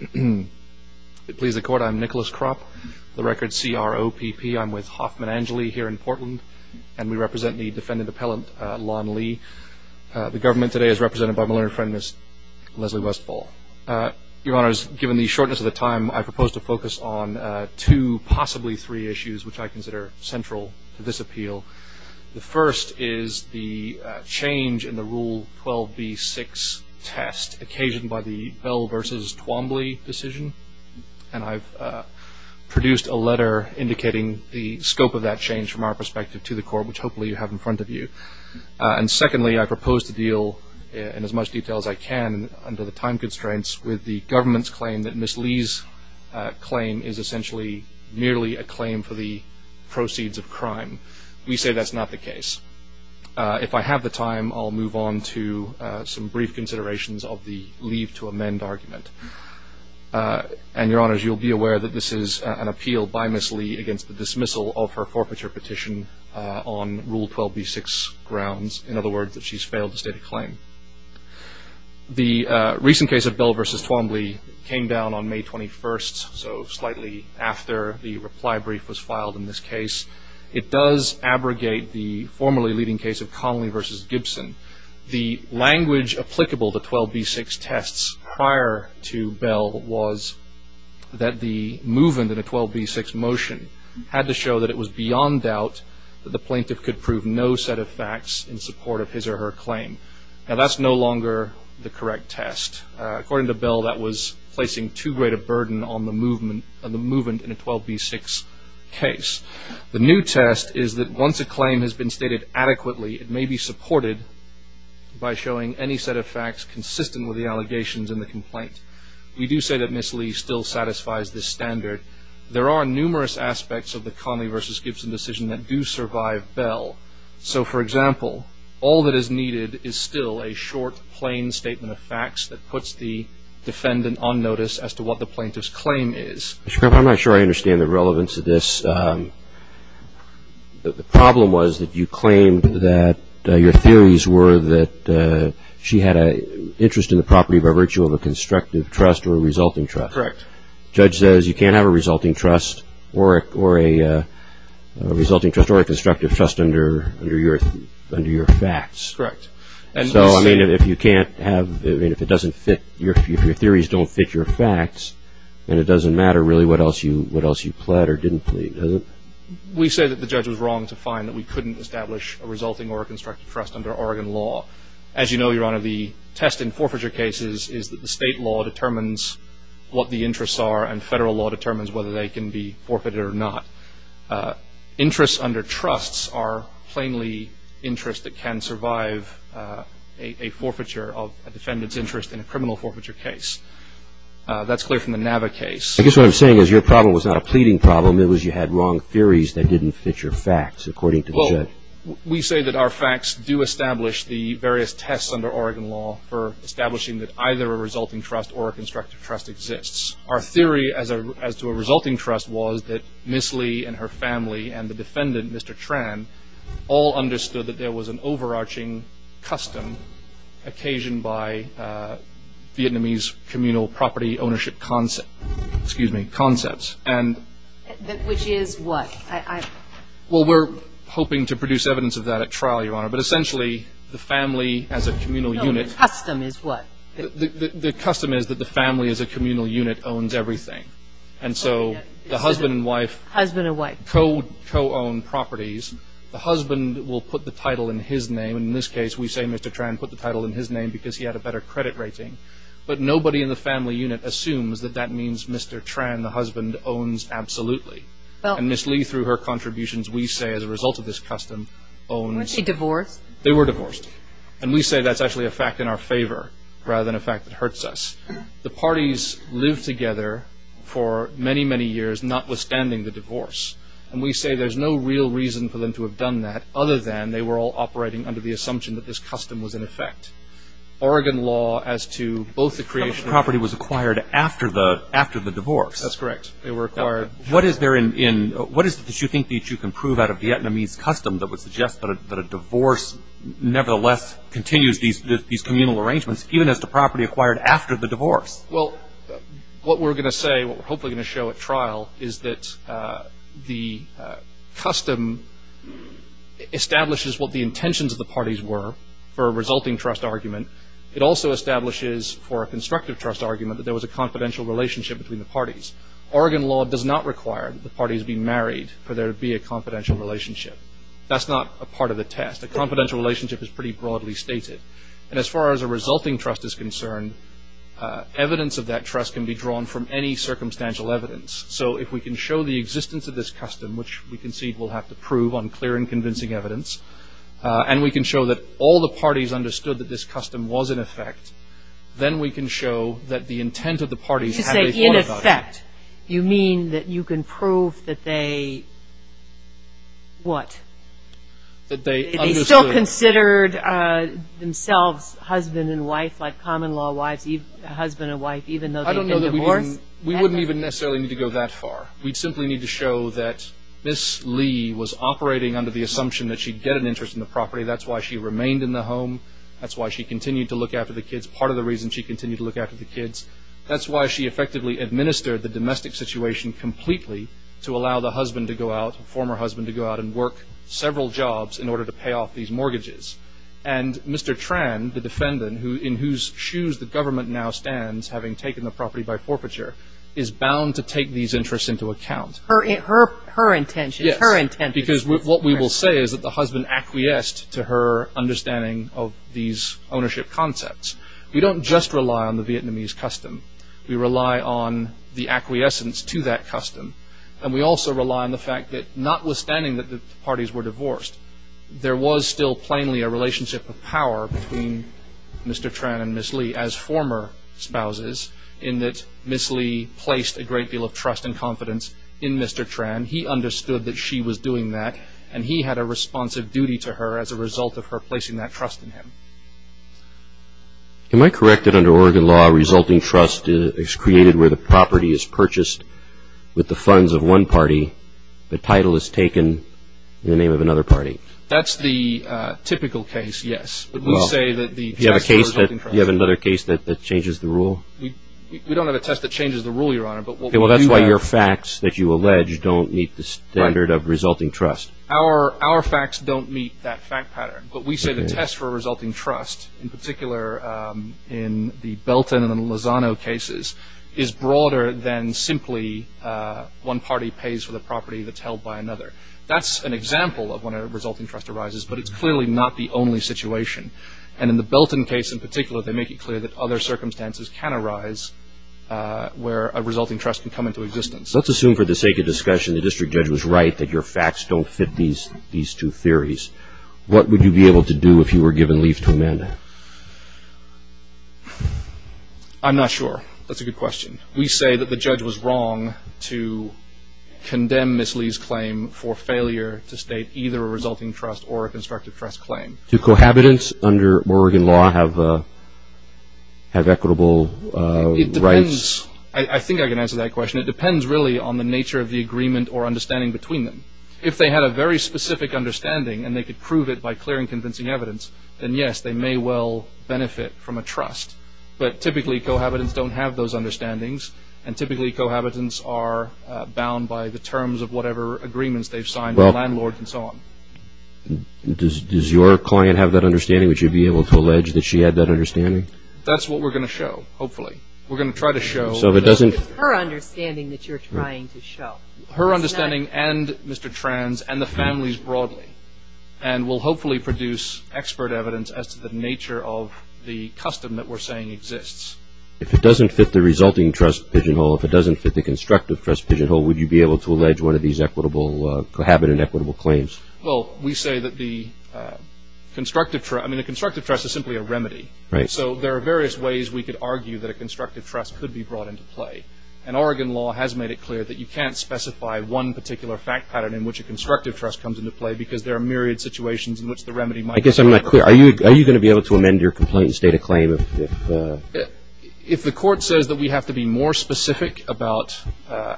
It please the court, I'm Nicholas Kropp, the record CROPP. I'm with Hoffman Angeli here in Portland, and we represent the defendant appellant Lon Lee. The government today is represented by my lawyer friend, Leslie Westfall. Your honors, given the shortness of the time, I propose to focus on two, possibly three issues which I consider central to this appeal. The first is the change in the Rule 12b-6 test occasioned by the Bell v. Twombly decision, and I've produced a letter indicating the scope of that change from our perspective to the court, which hopefully you have in front of you. And secondly, I propose to deal in as much detail as I can, under the time constraints, with the government's claim that Ms. Lee's claim is essentially merely a claim for the proceeds of crime. We say that's not the case. If I have the time, I'll move on to some brief considerations of the leave to amend argument. And your honors, you'll be aware that this is an appeal by Ms. Lee against the dismissal of her forfeiture petition on Rule 12b-6 grounds. In other words, she's failed to state a claim. The recent case of Bell v. Twombly came down on May 21st, so slightly after the reply brief was filed in this case. It does abrogate the formerly leading case of Conley v. Gibson. The language applicable to 12b-6 tests prior to Bell was that the movement of the 12b-6 motion had to show that it was beyond doubt that the plaintiff would answer her claim. Now, that's no longer the correct test. According to Bell, that was placing too great a burden on the movement in a 12b-6 case. The new test is that once a claim has been stated adequately, it may be supported by showing any set of facts consistent with the allegations in the complaint. We do say that Ms. Lee still satisfies this standard. There are numerous aspects of the Conley v. Gibson decision that do survive Bell. So, for example, all that is needed is still a short, plain statement of facts that puts the defendant on notice as to what the plaintiff's claim is. Mr. Carpenter, I'm not sure I understand the relevance of this. The problem was that you claimed that your theories were that she had an interest in the property by virtue of a constructive trust or a resulting trust. Correct. Judge says you can't have a resulting trust or a constructive trust under your facts. Correct. So, I mean, if your theories don't fit your facts, then it doesn't matter really what else you pled or didn't plead, does it? We say that the judge was wrong to find that we couldn't establish a resulting or a constructive trust under Oregon law. As you know, Your Honor, the test in forfeiture cases is that the interests are and federal law determines whether they can be forfeited or not. Interests under trusts are plainly interests that can survive a forfeiture of a defendant's interest in a criminal forfeiture case. That's clear from the Nava case. I guess what I'm saying is your problem was not a pleading problem. It was you had wrong theories that didn't fit your facts, according to the judge. We say that our facts do establish the various tests under Oregon law for establishing that either a resulting trust or a constructive trust exists. Our theory as to a resulting trust was that Ms. Lee and her family and the defendant, Mr. Tran, all understood that there was an overarching custom occasioned by Vietnamese communal property ownership concept, excuse me, concepts, and Which is what? Well, we're hoping to produce evidence of that at trial, Your Honor, but essentially the family as a communal unit No, the custom is what? The custom is that the family as a communal unit owns everything, and so the husband and wife co-own properties. The husband will put the title in his name. In this case, we say Mr. Tran put the title in his name because he had a better credit rating, but nobody in the family unit assumes that that means Mr. Tran, the husband, owns absolutely. And Ms. Lee, through her contributions, we say as a result of this custom, owns Weren't they divorced? They were divorced, and we say that's actually a fact in our favor rather than a fact that hurts us. The parties lived together for many, many years notwithstanding the divorce, and we say there's no real reason for them to have done that other than they were all operating under the assumption that this custom was in effect. Oregon law as to both the creation The property was acquired after the divorce That's correct. They were acquired What is there in, what is it that you think that you can prove out of Vietnamese custom that would suggest that a divorce nevertheless continues these communal arrangements even as to property acquired after the divorce? Well, what we're going to say, what we're hopefully going to show at trial, is that the custom establishes what the intentions of the parties were for a resulting trust argument. It also establishes for a constructive trust argument that there was a confidential relationship between the parties. Oregon law does not require that the parties be married for there to be a confidential relationship. That's not a part of the test. A confidential relationship is pretty broadly stated. And as far as a resulting trust is concerned, evidence of that trust can be drawn from any circumstantial evidence. So if we can show the existence of this custom, which we concede we'll have to prove on clear and convincing evidence, and we can show that all the parties understood that this custom was in effect, then we can show that the intent of the parties had a thought about it. You mean that you can prove that they, what? That they understood? That they still considered themselves husband and wife, like common law wives, husband and wife, even though they've been divorced? We wouldn't even necessarily need to go that far. We'd simply need to show that Miss Lee was operating under the assumption that she'd get an interest in the property. That's why she remained in the home. That's why she continued to look after the kids. Part of the reason she continued to look after the kids, that's why she effectively administered the domestic situation completely to allow the husband to go out, former husband to go out and work several jobs in order to pay off these mortgages. And Mr. Tran, the defendant, in whose shoes the government now stands, having taken the property by forfeiture, is bound to take these interests into account. Her intention? Yes. Her intent? Because what we will say is that the husband acquiesced to her understanding of these ownership concepts. We don't just rely on the Vietnamese custom. We rely on the acquiescence to that custom. And we also rely on the fact that notwithstanding that the parties were divorced, there was still plainly a relationship of power between Mr. Tran and Miss Lee as former spouses in that Miss Lee placed a great deal of trust and confidence in Mr. Tran. He understood that she was doing that. And he had a responsive duty to her as a result of her placing that trust in him. Am I correct that under Oregon law, a resulting trust is created where the property is purchased with the funds of one party, the title is taken in the name of another party? That's the typical case, yes. But we say that the test for a resulting trust... Do you have another case that changes the rule? We don't have a test that changes the rule, Your Honor, but what we do have... Okay, well, that's why your facts that you allege don't meet the standard of resulting trust. Our facts don't meet that fact pattern. But we say the test for a resulting trust, in particular in the Belton and Lozano cases, is broader than simply one party pays for the property that's held by another. That's an example of when a resulting trust arises, but it's clearly not the only situation. And in the Belton case in particular, they make it clear that other circumstances can arise where a resulting trust can come into existence. Let's assume for the sake of discussion, the district judge was right that your facts don't fit these two theories. What would you be able to do if you were given leave to amend? I'm not sure. That's a good question. We say that the judge was wrong to condemn Ms. Lee's claim for failure to state either a resulting trust or a constructive trust claim. Do cohabitants under Oregon law have equitable rights? I think I can answer that question. It depends really on the nature of the agreement or understanding between them. If they had a very specific understanding and they could prove it by clearing convincing evidence, then yes, they may well benefit from a trust. But typically cohabitants don't have those understandings. And typically cohabitants are bound by the terms of whatever agreements they've signed with landlords and so on. Does your client have that understanding? Would you be able to allege that she had that understanding? That's what we're going to show, hopefully. We're going to try to show... So if it doesn't... It's her understanding that you're trying to show. Her understanding and Mr. Tran's and the family's broadly. And we'll hopefully produce expert evidence as to the nature of the custom that we're saying exists. If it doesn't fit the resulting trust pigeonhole, if it doesn't fit the constructive trust pigeonhole, would you be able to allege one of these equitable, cohabitant equitable claims? Well, we say that the constructive trust... I mean, the constructive trust is simply a remedy. Right. So there are various ways we could argue that a constructive trust could be brought into play. And Oregon law has made it clear that you can't specify one particular fact pattern in which a constructive trust comes into play because there are myriad situations in which the remedy might... I guess I'm not clear. Are you going to be able to amend your complaint and state a claim if... If the court says that we have to be more specific about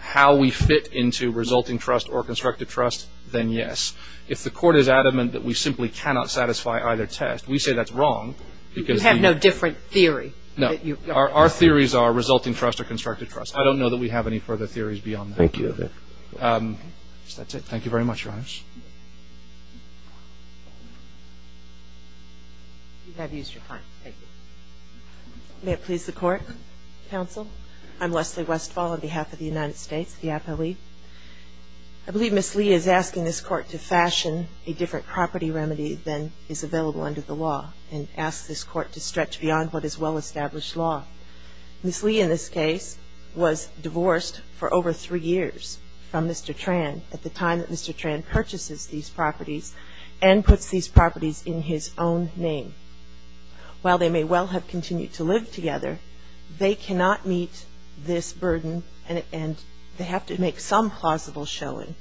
how we fit into resulting trust or constructive trust, then yes. If the court is adamant that we simply cannot satisfy either test, we say that's wrong because we... You have no different theory. No. Our theories are resulting trust or constructive trust. I don't know that we have any further theories beyond that. Thank you. So that's it. Thank you very much, Your Honor. You have used your time. Thank you. May it please the Court, Counsel. I'm Leslie Westfall on behalf of the United States, the Apo League. I believe Ms. Lee is asking this Court to fashion a different property remedy than is available under the law and ask this Court to stretch beyond what is well-established law. Ms. Lee, in this case, was divorced for over three years from Mr. Tran at the time that Mr. Tran purchases these properties and puts these properties in his own name. While they may well have continued to live together, they cannot meet this burden and they have to make some plausible showing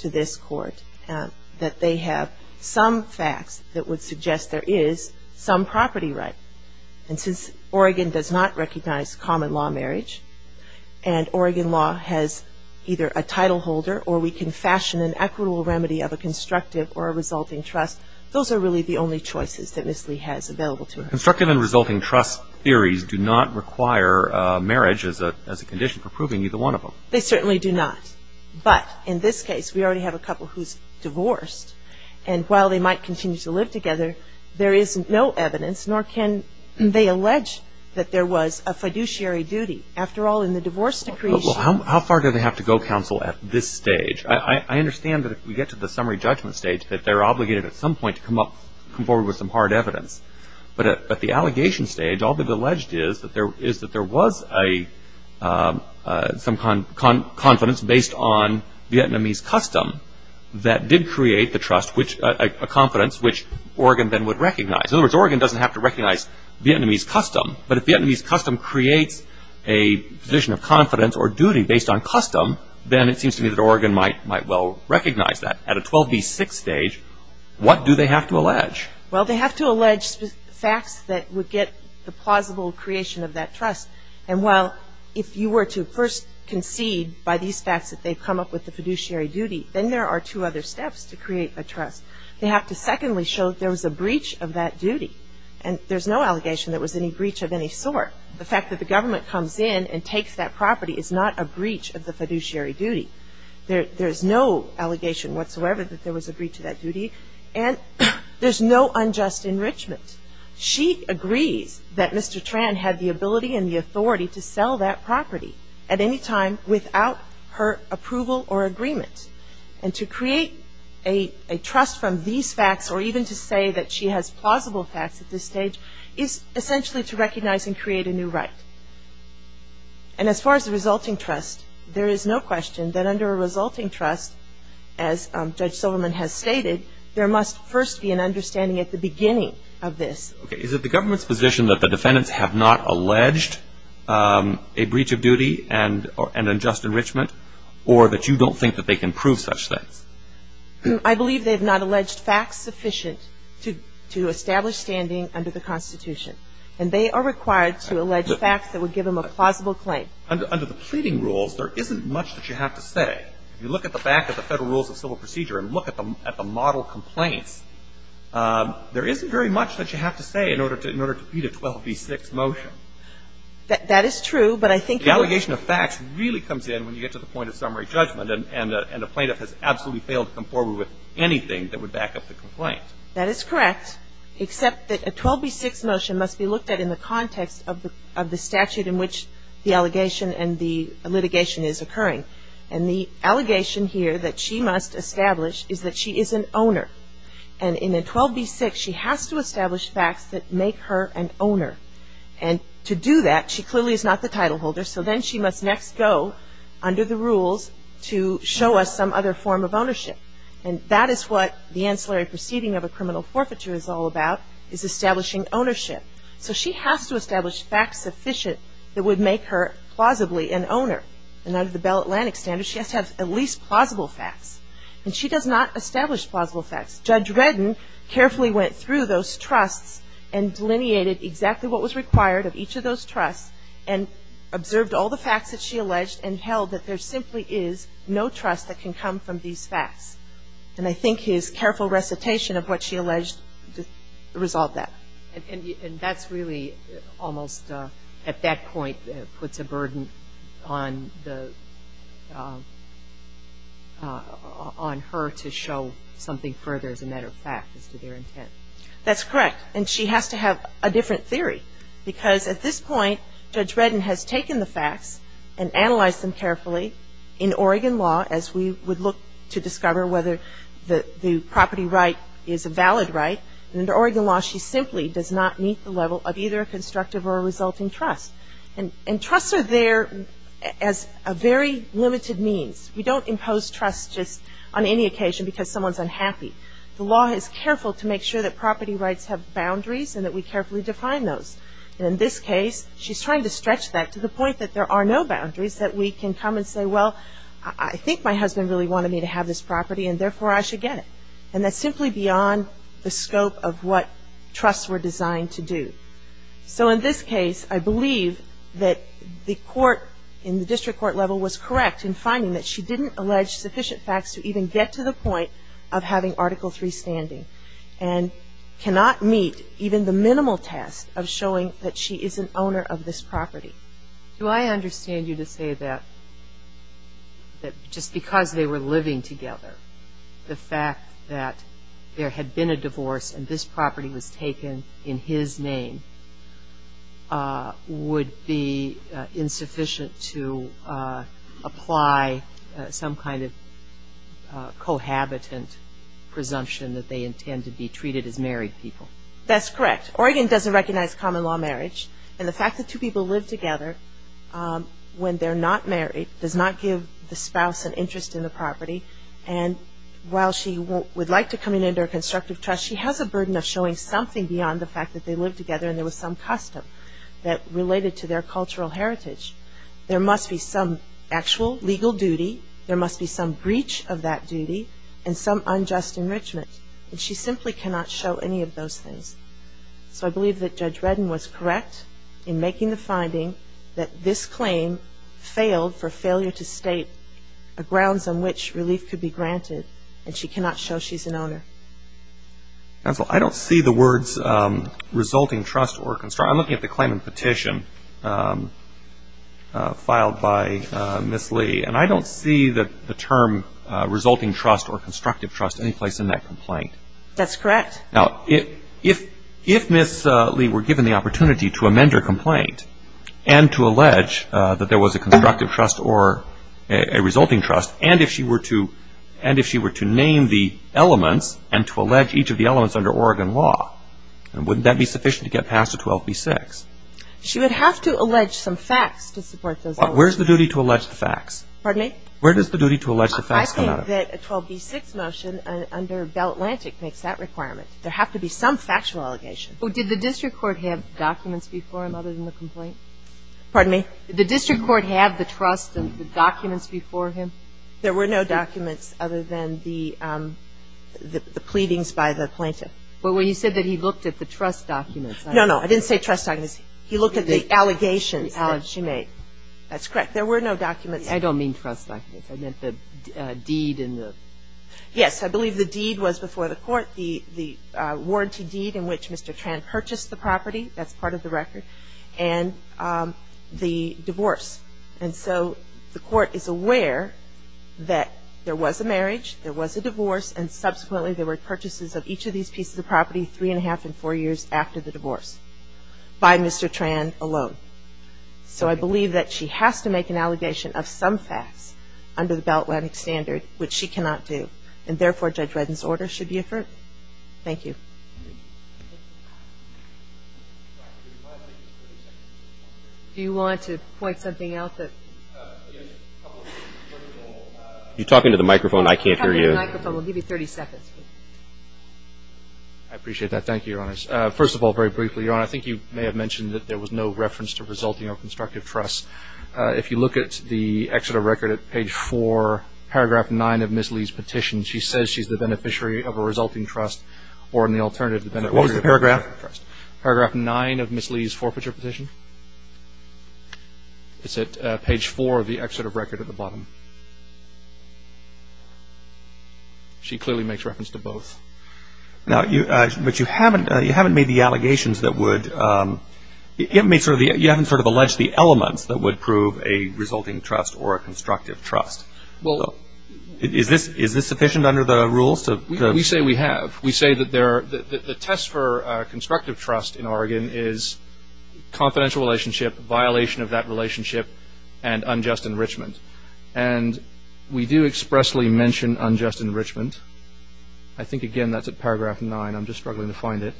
to this Court that they have some facts that would suggest there is some property right. And since Oregon does not recognize common law marriage and Oregon law has either a title holder or we can fashion an equitable remedy of a constructive or a resulting trust, those are really the only choices that Ms. Lee has available to her. Constructive and resulting trust theories do not require marriage as a condition for proving either one of them. They certainly do not. But in this case, we already have a couple who is divorced and while they might continue to live together, there is no evidence, nor can they allege that there was a fiduciary duty. After all, in the divorce decree Well, how far do they have to go, counsel, at this stage? I understand that if we get to the summary judgment stage, that they are obligated at some point to come up, come forward with some hard evidence. But at the allegation stage, all they have alleged is that there was some confidence based on Vietnamese custom that did create the trust, a confidence which Oregon then would recognize. In other words, Oregon does not have to recognize Vietnamese custom. But if Vietnamese custom creates a position of confidence or duty based on custom, then it seems to me that Oregon might well recognize that. At a 12B6 stage, what do they have to allege? Well, they have to allege facts that would get the plausible creation of that trust. And while if you were to first concede by these facts that they have come up with the fiduciary duty, then there are two other steps to create a trust. They have to secondly show there was a breach of that duty. And there is no allegation that there was any breach of any sort. The fact that the government comes in and takes that property is not a breach of the fiduciary duty. There is no allegation whatsoever that there was a breach of that duty. And there is no unjust enrichment. She agrees that Mr. Tran had the ability and the authority to sell that property at any time without her approval or agreement. And to create a trust from these facts or even to say that she has plausible facts at this stage is essentially to recognize and create a new right. And as far as the resulting trust, there is no question that under a resulting trust, as Judge Silverman has stated, there must first be an understanding at the beginning of this. Okay. Is it the government's position that the defendants have not alleged a breach of duty and unjust enrichment or that you don't think that they can prove such things? I believe they have not alleged facts sufficient to establish standing under the Constitution. And they are required to allege facts that would give them a plausible claim. Under the pleading rules, there isn't much that you have to say. If you look at the back of the Federal Rules of Civil Procedure and look at the model complaints, there isn't very much that you have to say in order to beat a 12b6 motion. That is true, but I think that The allegation of facts really comes in when you get to the point of summary judgment. And a plaintiff has absolutely failed to come forward with anything that would back up the complaint. That is correct, except that a 12b6 motion must be looked at in the context of the statute in which the allegation and the litigation is occurring. And the allegation here that she must establish is that she is an owner. And in a 12b6, she has to establish facts that make her an owner. And to do that, she clearly is not the title holder, so then she must next go under the rules to show us some other form of ownership. And that is what the ancillary proceeding of a criminal forfeiture is all about, is establishing ownership. So she has to establish facts sufficient that would make her plausibly an owner. And under the Bell Atlantic standards, she has to have at least plausible facts. And she does not establish plausible facts. Judge Redden carefully went through those trusts and delineated exactly what was required of each of those trusts. And observed all the facts that she alleged and held that there simply is no trust that can come from these facts. And I think his careful recitation of what she alleged resolved that. And that's really almost, at that point, puts a burden on the, on her to show something further, as a matter of fact, as to their intent. That's correct. And she has to have a different theory, because at this point, Judge Redden has taken the facts and analyzed them carefully. In Oregon law, as we would look to discover whether the property right is a valid right, and under Oregon law, she simply does not meet the level of either a constructive or a resulting trust. And trusts are there as a very limited means. We don't impose trust just on any occasion because someone's unhappy. The law is careful to make sure that property rights have boundaries and that we carefully define those. And in this case, she's trying to stretch that to the point that there are no boundaries, that we can come and say, well, I think my husband really wanted me to have this property, and therefore I should get it. And that's simply beyond the scope of what trusts were designed to do. So in this case, I believe that the court in the district court level was correct in finding that she didn't allege sufficient facts to even get to the point of having Article III standing, and cannot meet even the minimal test of showing that she is an owner of this property. Do I understand you to say that just because they were living together, the fact that there had been a divorce and this property was taken in his name would be insufficient to apply some kind of cohabitant presumption that they intend to be treated as married people? That's correct. Oregon doesn't recognize common law marriage. And the fact that two people live together when they're not married does not give the spouse an interest in the property. And while she would like to come in under a constructive trust, she has a burden of showing something beyond the fact that they lived together and there was some custom that related to their cultural heritage. There must be some actual legal duty, there must be some breach of that duty, and some unjust enrichment, and she simply cannot show any of those things. So I believe that Judge Redden was correct in making the finding that this claim failed for failure to state grounds on which relief could be granted, and she cannot show she's an owner. Counsel, I don't see the words resulting trust or constructive, I'm looking at the claim and petition filed by Ms. Lee. And I don't see the term resulting trust or constructive trust any place in that complaint. That's correct. Now, if Ms. Lee were given the opportunity to amend her complaint and to allege that there was a constructive trust or a resulting trust, and if she were to name the elements and to allege each of the elements under Oregon law, wouldn't that be sufficient to get past a 12B6? She would have to allege some facts to support those elements. Where's the duty to allege the facts? Pardon me? Where does the duty to allege the facts come out of? I think that a 12B6 motion under Bell Atlantic makes that requirement. There have to be some factual allegation. Well, did the district court have documents before him other than the complaint? Pardon me? Did the district court have the trust and the documents before him? There were no documents other than the pleadings by the plaintiff. Well, you said that he looked at the trust documents. No, no. I didn't say trust documents. He looked at the allegations that she made. That's correct. There were no documents. I don't mean trust documents. I meant the deed and the ---- Yes. I believe the deed was before the court, the warranty deed in which Mr. Tran purchased the property, that's part of the record, and the divorce. And so the court is aware that there was a marriage, there was a divorce, and subsequently there were purchases of each of these pieces of property three and a half and four years after the divorce by Mr. Tran alone. So I believe that she has to make an allegation of some facts under the Bell Atlantic standard, which she cannot do. And therefore, Judge Redden's order should be affirmed. Thank you. Thank you. Do you want to point something out that ---- You're talking to the microphone. I can't hear you. We'll give you 30 seconds. I appreciate that. Thank you, Your Honor. First of all, very briefly, Your Honor, I think you may have mentioned that there was no reference to resulting or constructive trust. If you look at the excerpt of record at page four, paragraph nine of Ms. Lee's petition, she says she's the beneficiary of a resulting trust or an alternative. What was the paragraph? Paragraph nine of Ms. Lee's forfeiture petition. It's at page four of the excerpt of record at the bottom. She clearly makes reference to both. But you haven't made the allegations that would ---- You haven't sort of alleged the elements that would prove a resulting trust or a constructive trust. Is this sufficient under the rules? We say we have. We say that the test for constructive trust in Oregon is confidential relationship, violation of that relationship, and unjust enrichment. And we do expressly mention unjust enrichment. I think, again, that's at paragraph nine. I'm just struggling to find it.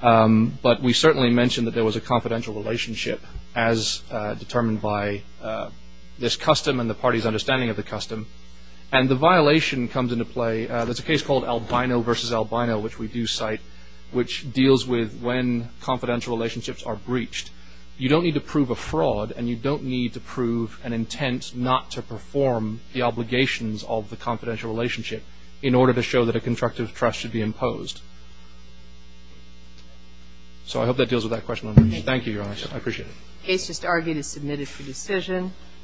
But we certainly mention that there was a confidential relationship as determined by this custom and the party's understanding of the custom. And the violation comes into play. There's a case called Albino versus Albino, which we do cite, which deals with when confidential relationships are breached. You don't need to prove a fraud, and you don't need to prove an intent not to perform the obligations of the confidential relationship in order to show that a constructive trust should be imposed. So I hope that deals with that question. Thank you, Your Honor. I appreciate it. The case just argued is submitted for decision.